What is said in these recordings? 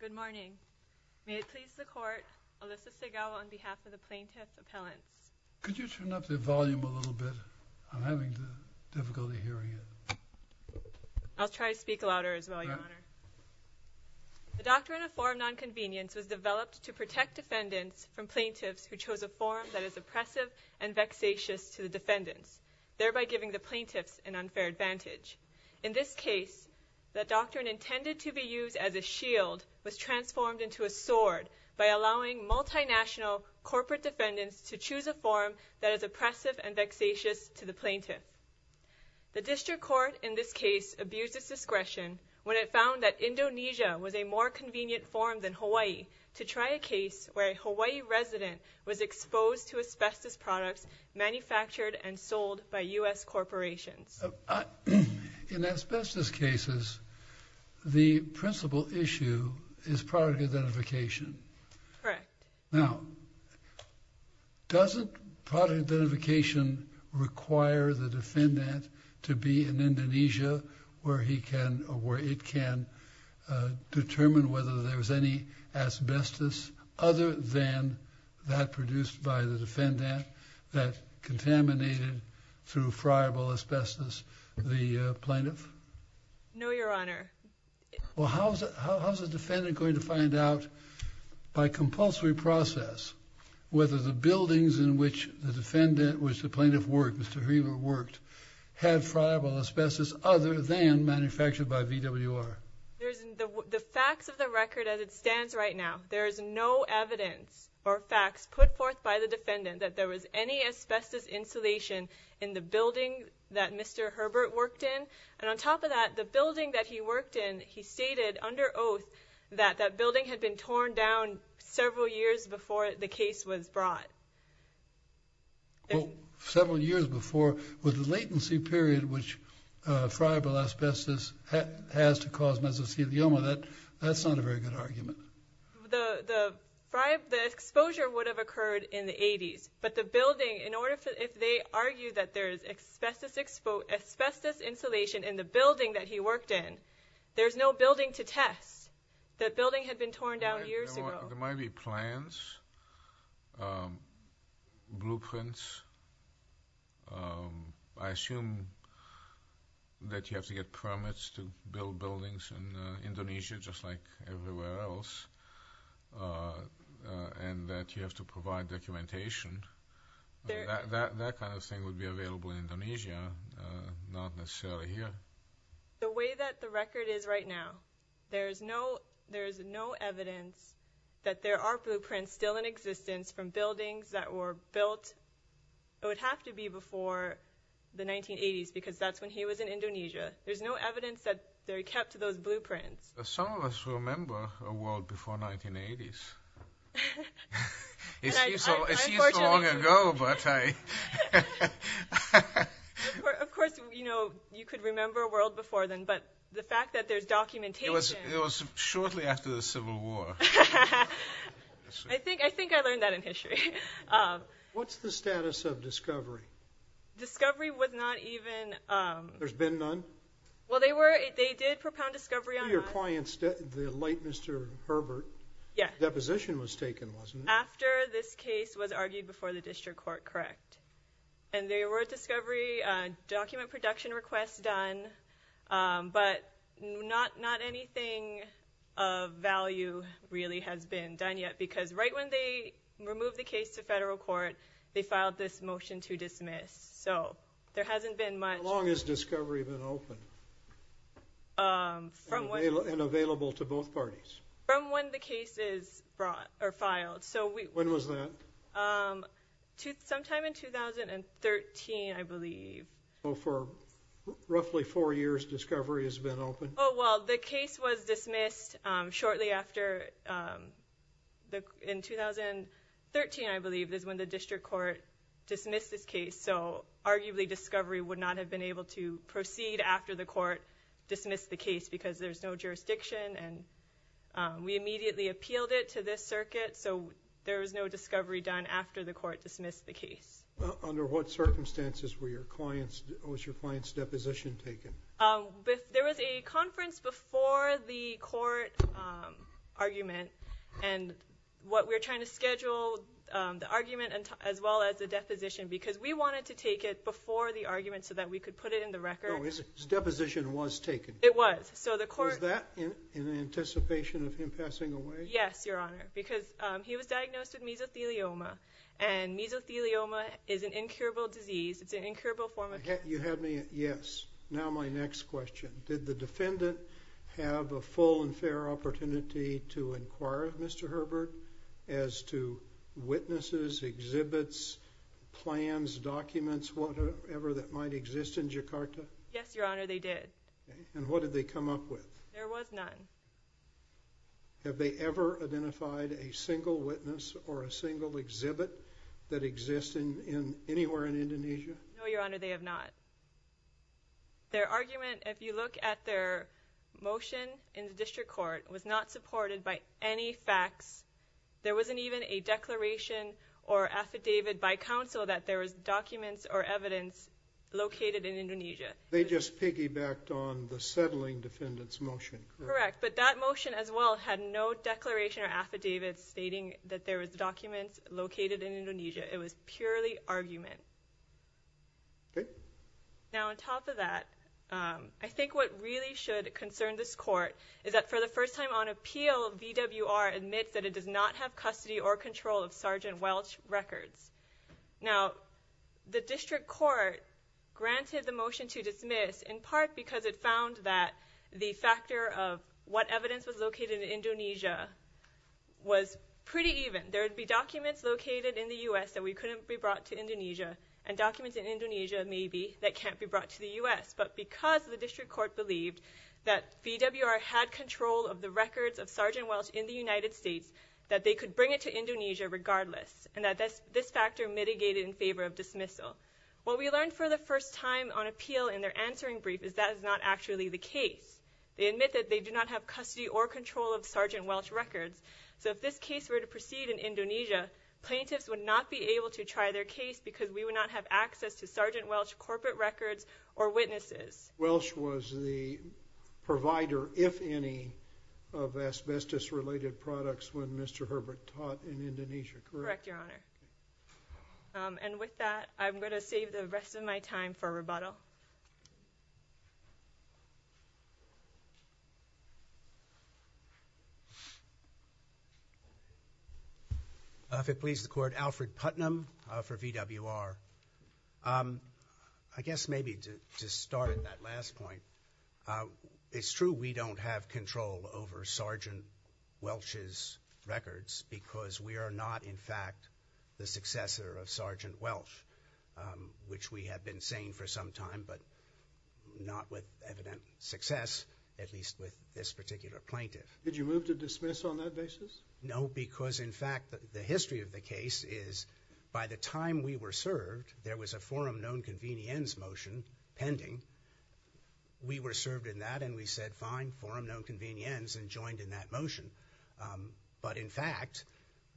Good morning. May it please the Court, Alyssa Segawa on behalf of the Plaintiffs' Appellants. Could you turn up the volume a little bit? I'm having difficulty hearing you. I'll try to speak louder as well, Your Honor. The doctrine of form nonconvenience was developed to protect defendants from plaintiffs who chose a form that is oppressive and vexatious to the defendants, thereby giving the plaintiffs an unfair advantage. In this case, the doctrine intended to be used as a shield was transformed into a sword by allowing multinational corporate defendants to choose a form that is oppressive and vexatious to the plaintiff. The District Court in this case abused its discretion when it found that Indonesia was a more convenient form than Hawaii to try a case where a Hawaii resident was exposed to asbestos products manufactured and sold by U.S. corporations. In asbestos cases, the principal issue is product identification. Correct. Now, doesn't product identification require the defendant to be in Indonesia where he can or where it can determine whether there's any asbestos other than that produced by the defendant that contaminated through friable asbestos the plaintiff? No, Your Honor. Well, how is the defendant going to find out by compulsory process whether the buildings in which the defendant, which the plaintiff worked, Mr. Hreber worked, had friable asbestos other than manufactured by VWR? The facts of the record as it stands right now, there is no evidence or facts put forth by the defendant that there was any asbestos insulation in the building that Mr. Hreber worked in. And on top of that, the building that he worked in, he stated under oath that that building had been torn down several years before the case was brought. Well, several years before, with the latency period which friable asbestos has to cause mesothelioma, that's not a very good argument. The exposure would have occurred in the 80s, but the building, if they argue that there is asbestos insulation in the building that he worked in, there's no building to test. The building had been torn down years ago. There might be plans, blueprints. I assume that you have to get permits to build buildings in Indonesia, just like everywhere else, and that you have to provide documentation. That kind of thing would be available in Indonesia, not necessarily here. The way that the record is right now, there is no evidence that there are blueprints still in existence from buildings that were built. It would have to be before the 1980s, because that's when he was in Indonesia. There's no evidence that they're kept, those blueprints. Some of us remember a world before 1980s. I see it's long ago, but I… Of course, you could remember a world before then, but the fact that there's documentation… It was shortly after the Civil War. I think I learned that in history. What's the status of discovery? Discovery was not even… There's been none? Well, they did propound discovery on… To your client, the late Mr. Herbert. Deposition was taken, wasn't it? After this case was argued before the district court, correct. There were discovery document production requests done, but not anything of value really has been done yet, because right when they removed the case to federal court, they filed this motion to dismiss. There hasn't been much… How long has discovery been open and available to both parties? From when the case is filed. When was that? Sometime in 2013, I believe. For roughly four years, discovery has been open? Well, the case was dismissed shortly after… In 2013, I believe, is when the district court dismissed this case. Arguably, discovery would not have been able to proceed after the court dismissed the case, because there's no jurisdiction, and we immediately appealed it to this circuit, so there was no discovery done after the court dismissed the case. Under what circumstances was your client's deposition taken? There was a conference before the court argument, and we were trying to schedule the argument as well as the deposition, because we wanted to take it before the argument so that we could put it in the record. So the deposition was taken? It was. Was that in anticipation of him passing away? Yes, Your Honor, because he was diagnosed with mesothelioma, and mesothelioma is an incurable disease. It's an incurable form of cancer. You had me at yes. Now my next question. Did the defendant have a full and fair opportunity to inquire of Mr. Herbert as to witnesses, exhibits, plans, documents, whatever that might exist in Jakarta? Yes, Your Honor, they did. And what did they come up with? There was none. Have they ever identified a single witness or a single exhibit that exists anywhere in Indonesia? No, Your Honor, they have not. Their argument, if you look at their motion in the district court, was not supported by any facts. There wasn't even a declaration or affidavit by counsel that there was documents or evidence located in Indonesia. They just piggybacked on the settling defendant's motion. Correct, but that motion as well had no declaration or affidavit stating that there was documents located in Indonesia. It was purely argument. Okay. Now on top of that, I think what really should concern this court is that for the first time on appeal, VWR admits that it does not have custody or control of Sergeant Welch records. Now the district court granted the motion to dismiss in part because it found that the factor of what evidence was located in Indonesia was pretty even. There would be documents located in the U.S. that we couldn't be brought to Indonesia and documents in Indonesia, maybe, that can't be brought to the U.S. But because the district court believed that VWR had control of the records of Sergeant Welch in the United States, that they could bring it to Indonesia regardless and that this factor mitigated in favor of dismissal. What we learned for the first time on appeal in their answering brief is that is not actually the case. They admit that they do not have custody or control of Sergeant Welch records. So if this case were to proceed in Indonesia, plaintiffs would not be able to try their case because we would not have access to Sergeant Welch corporate records or witnesses. Welch was the provider, if any, of asbestos-related products when Mr. Herbert taught in Indonesia, correct? Correct, Your Honor. And with that, I'm going to save the rest of my time for rebuttal. If it pleases the Court, Alfred Putnam for VWR. I guess maybe to start at that last point, it's true we don't have control over Sergeant Welch's records because we are not, in fact, the successor of Sergeant Welch, which we have been saying for some time but not with evident success, at least with this particular plaintiff. Did you move to dismiss on that basis? No, because, in fact, the history of the case is by the time we were served, there was a forum known convenience motion pending. We were served in that and we said, fine, forum known convenience, and joined in that motion. But, in fact,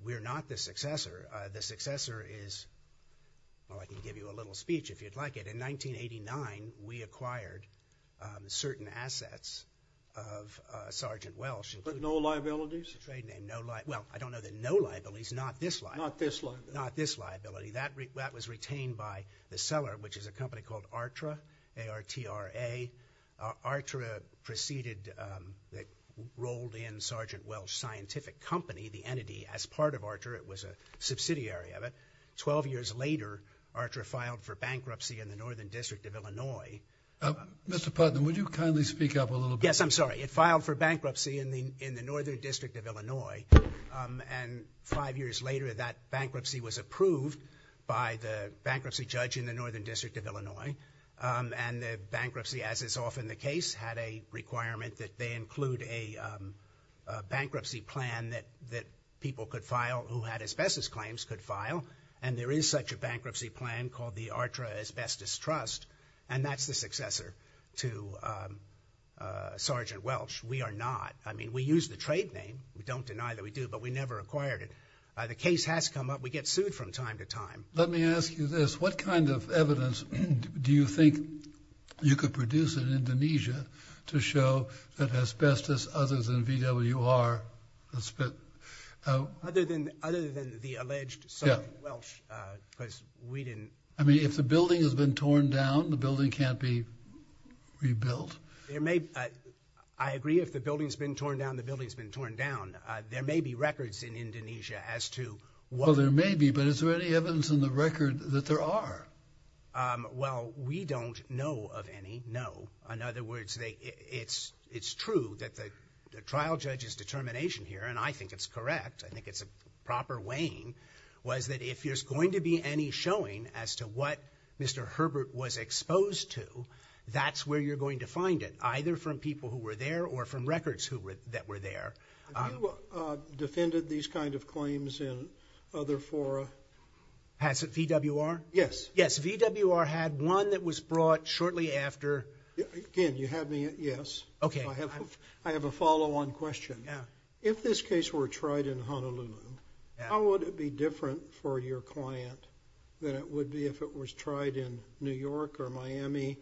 we're not the successor. The successor is, well, I can give you a little speech if you'd like it. In 1989, we acquired certain assets of Sergeant Welch. But no liabilities? Well, I don't know the no liabilities, not this liability. Not this liability. Not this liability. That was retained by the seller, which is a company called ARTRA, A-R-T-R-A. ARTRA proceeded, rolled in Sergeant Welch's scientific company, the entity, as part of ARTRA. It was a subsidiary of it. Twelve years later, ARTRA filed for bankruptcy in the Northern District of Illinois. Mr. Putnam, would you kindly speak up a little bit? Yes, I'm sorry. It filed for bankruptcy in the Northern District of Illinois, and five years later that bankruptcy was approved by the bankruptcy judge in the Northern District of Illinois. And the bankruptcy, as is often the case, had a requirement that they include a bankruptcy plan that people could file who had asbestos claims could file. And there is such a bankruptcy plan called the ARTRA Asbestos Trust, and that's the successor to Sergeant Welch. We are not. I mean, we use the trade name. We don't deny that we do, but we never acquired it. The case has come up. We get sued from time to time. Let me ask you this. What kind of evidence do you think you could produce in Indonesia to show that asbestos other than VWR has been? Other than the alleged Sergeant Welch, because we didn't. I mean, if the building has been torn down, the building can't be rebuilt. I agree if the building's been torn down, the building's been torn down. There may be records in Indonesia as to what. Well, there may be, but is there any evidence in the record that there are? Well, we don't know of any, no. In other words, it's true that the trial judge's determination here, and I think it's correct, I think it's a proper weighing, was that if there's going to be any showing as to what Mr. Herbert was exposed to, that's where you're going to find it, either from people who were there or from records that were there. Have you defended these kind of claims in other fora? VWR? Yes. Yes, VWR had one that was brought shortly after. Again, you had me at yes. Okay. I have a follow-on question. If this case were tried in Honolulu, how would it be different for your client than it would be if it was tried in New York or Miami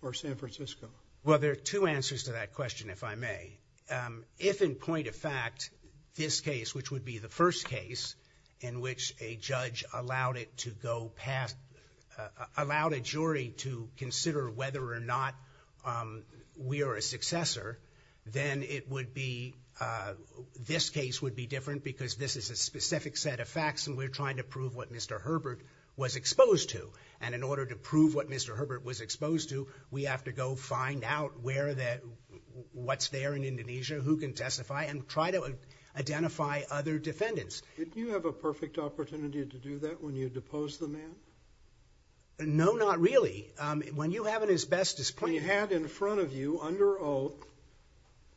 or San Francisco? Well, there are two answers to that question, if I may. If, in point of fact, this case, which would be the first case, in which a judge allowed it to go past, allowed a jury to consider whether or not we are a successor, then it would be, this case would be different because this is a specific set of facts and we're trying to prove what Mr. Herbert was exposed to. And in order to prove what Mr. Herbert was exposed to, we have to go find out what's there in Indonesia, who can testify, and try to identify other defendants. Did you have a perfect opportunity to do that when you deposed the man? No, not really. When you have it as best as possible. When you had in front of you, under oath,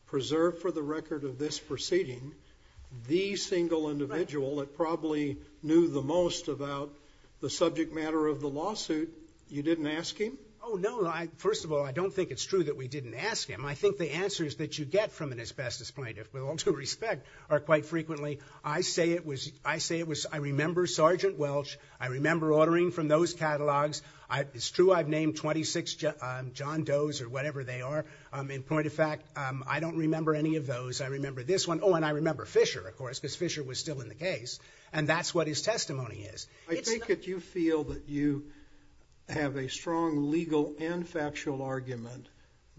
preserved for the record of this proceeding, the single individual that probably knew the most about the subject matter of the lawsuit, you didn't ask him? Oh, no. First of all, I don't think it's true that we didn't ask him. I think the answers that you get from an asbestos plaintiff, with all due respect, are quite frequently, I say it was, I remember Sergeant Welch. I remember ordering from those catalogs. It's true I've named 26 John Does or whatever they are. In point of fact, I don't remember any of those. I remember this one. Oh, and I remember Fisher, of course, because Fisher was still in the case. And that's what his testimony is. I think that you feel that you have a strong legal and factual argument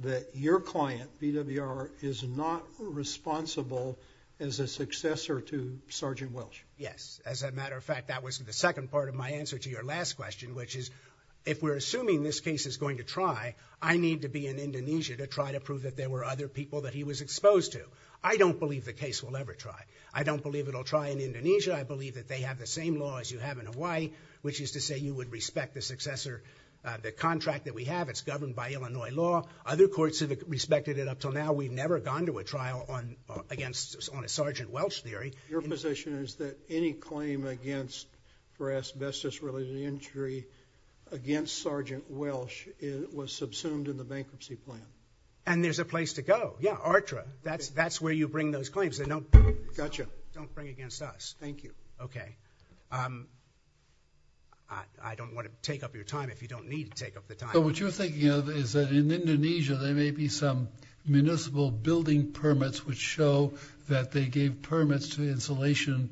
that your client, BWR, is not responsible as a successor to Sergeant Welch. Yes. As a matter of fact, that was the second part of my answer to your last question, which is if we're assuming this case is going to try, I need to be in Indonesia to try to prove that there were other people that he was exposed to. I don't believe the case will ever try. I don't believe it will try in Indonesia. I believe that they have the same laws you have in Hawaii, which is to say you would respect the successor, the contract that we have. It's governed by Illinois law. Other courts have respected it up until now. We've never gone to a trial on a Sergeant Welch theory. Your position is that any claim against for asbestos-related injury against Sergeant Welch was subsumed in the bankruptcy plan. And there's a place to go. Yeah, ARTRA. That's where you bring those claims. Gotcha. But don't bring it against us. Thank you. Okay. I don't want to take up your time if you don't need to take up the time. But what you're thinking of is that in Indonesia there may be some municipal building permits which show that they gave permits to insulation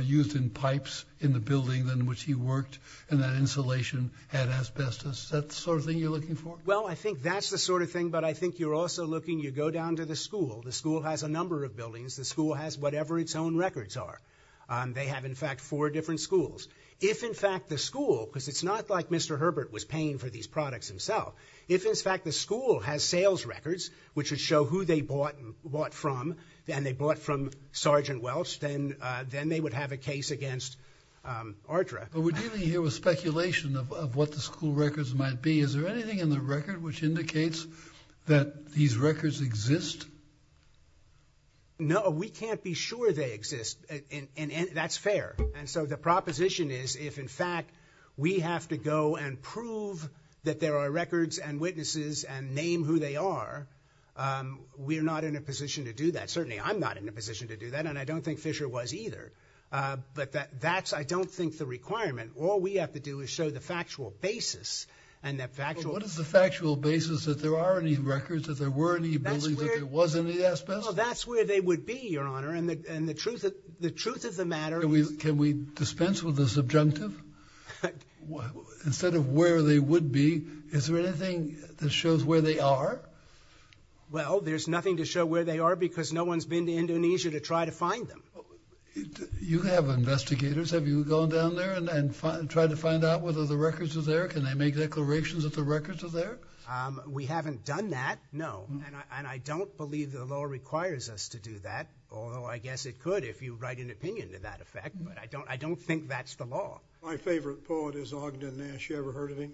used in pipes in the building in which he worked, and that insulation had asbestos. Is that the sort of thing you're looking for? Well, I think that's the sort of thing. But I think you're also looking, you go down to the school. The school has a number of buildings. The school has whatever its own records are. They have, in fact, four different schools. If, in fact, the school, because it's not like Mr. Herbert was paying for these products himself, if, in fact, the school has sales records which would show who they bought from and they bought from Sergeant Welch, then they would have a case against ARTRA. But we're dealing here with speculation of what the school records might be. Is there anything in the record which indicates that these records exist? No. We can't be sure they exist. That's fair. And so the proposition is if, in fact, we have to go and prove that there are records and witnesses and name who they are, we're not in a position to do that. Certainly I'm not in a position to do that, and I don't think Fisher was either. But that's, I don't think, the requirement. All we have to do is show the factual basis and that factual. What is the factual basis that there are any records, that there were any bullies, that there was any asbestos? Well, that's where they would be, Your Honor, and the truth of the matter is... Can we dispense with the subjunctive? Instead of where they would be, is there anything that shows where they are? Well, there's nothing to show where they are because no one's been to Indonesia to try to find them. You have investigators. Have you gone down there and tried to find out whether the records were there? Can they make declarations that the records are there? We haven't done that, no, and I don't believe the law requires us to do that, although I guess it could if you write an opinion to that effect, but I don't think that's the law. My favorite poet is Ogden Nash. You ever heard of him?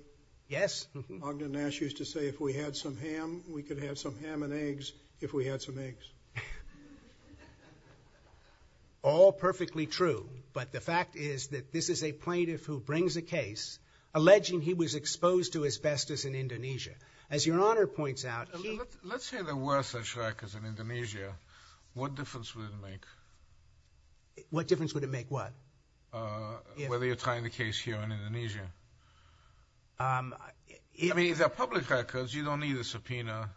Yes. Ogden Nash used to say if we had some ham, we could have some ham and eggs if we had some eggs. All perfectly true, but the fact is that this is a plaintiff who brings a case alleging he was exposed to asbestos in Indonesia. As Your Honor points out, he... Let's say there were such records in Indonesia. What difference would it make? What difference would it make what? Whether you're trying the case here in Indonesia. I mean, if they're public records, you don't need a subpoena.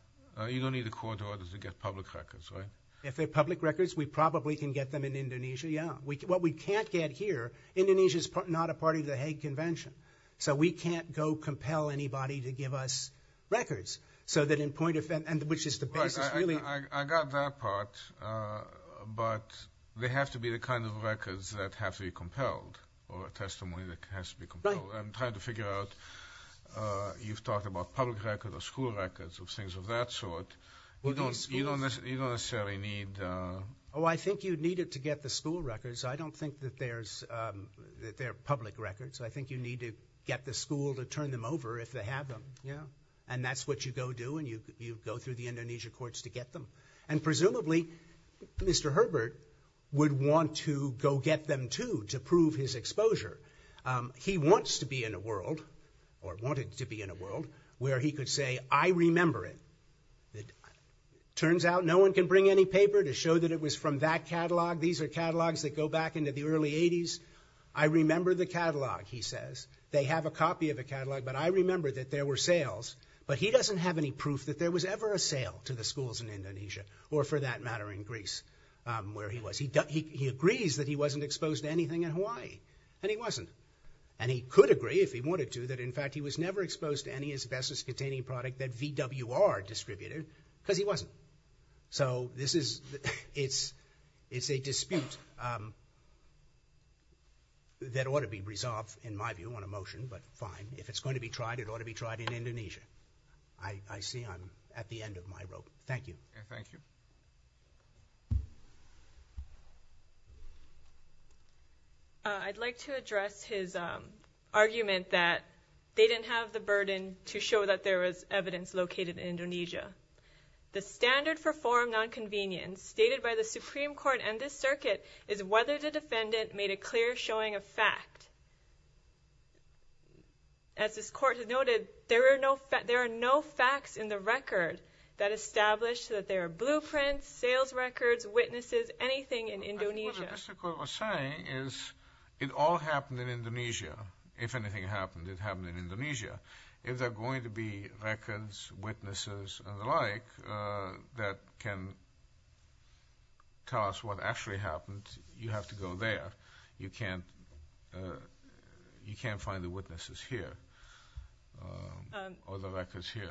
You don't need a court order to get public records, right? If they're public records, we probably can get them in Indonesia, yeah. What we can't get here, Indonesia's not a part of the Hague Convention, so we can't go compel anybody to give us records, so that in point of... Right, I got that part, but they have to be the kind of records that have to be compelled or a testimony that has to be compelled. Right. I'm trying to figure out, you've talked about public records or school records or things of that sort. You don't necessarily need... Oh, I think you'd need it to get the school records. I don't think that they're public records. I think you need to get the school to turn them over if they have them, and that's what you go do, and you go through the Indonesia courts to get them. And presumably, Mr. Herbert would want to go get them too to prove his exposure. He wants to be in a world, or wanted to be in a world, where he could say, I remember it. It turns out no one can bring any paper to show that it was from that catalog. These are catalogs that go back into the early 80s. I remember the catalog, he says. They have a copy of the catalog, but I remember that there were sales. But he doesn't have any proof that there was ever a sale to the schools in Indonesia or, for that matter, in Greece where he was. He agrees that he wasn't exposed to anything in Hawaii, and he wasn't, and he could agree, if he wanted to, that, in fact, he was never exposed to any asbestos-containing product that VWR distributed because he wasn't. So this is a dispute that ought to be resolved, in my view, on a motion, but fine. If it's going to be tried, it ought to be tried in Indonesia. I see I'm at the end of my rope. Thank you. Thank you. I'd like to address his argument that they didn't have the burden to show that there was evidence located in Indonesia. The standard for forum nonconvenience stated by the Supreme Court and this circuit is whether the defendant made a clear showing of fact. As this court has noted, there are no facts in the record that establish that there are blueprints, sales records, witnesses, anything in Indonesia. What Mr. Court was saying is it all happened in Indonesia. If anything happened, it happened in Indonesia. If there are going to be records, witnesses, and the like, that can tell us what actually happened, you have to go there. You can't find the witnesses here or the records here.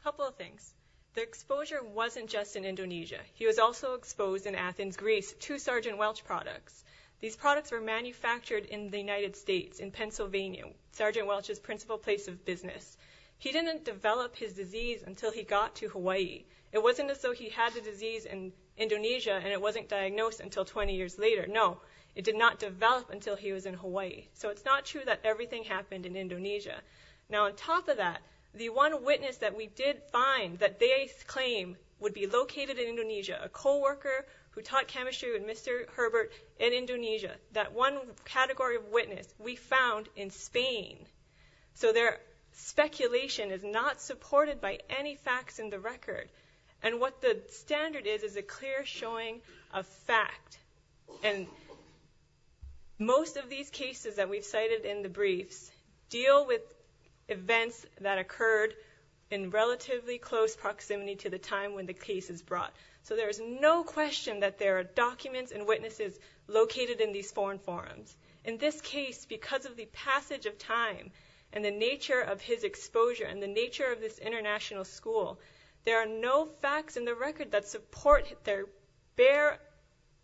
A couple of things. The exposure wasn't just in Indonesia. He was also exposed in Athens, Greece, to Sergeant Welch products. These products were manufactured in the United States, in Pennsylvania, Sergeant Welch's principal place of business. He didn't develop his disease until he got to Hawaii. It wasn't as though he had the disease in Indonesia and it wasn't diagnosed until 20 years later. No, it did not develop until he was in Hawaii. It's not true that everything happened in Indonesia. On top of that, the one witness that we did find that they claim would be located in Indonesia, a co-worker who taught chemistry with Mr. Herbert in Indonesia, that one category of witness we found in Spain. Their speculation is not supported by any facts in the record. What the standard is is a clear showing of fact. And most of these cases that we've cited in the briefs deal with events that occurred in relatively close proximity to the time when the case is brought. So there is no question that there are documents and witnesses located in these foreign forums. In this case, because of the passage of time and the nature of his exposure and the nature of this international school, there are no facts in the record that support their bare,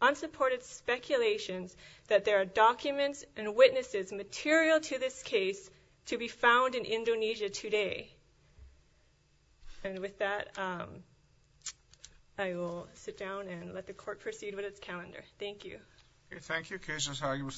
unsupported speculations that there are documents and witnesses material to this case to be found in Indonesia today. And with that, I will sit down and let the court proceed with its calendar. Okay, thank you. Cases, arguments, statements.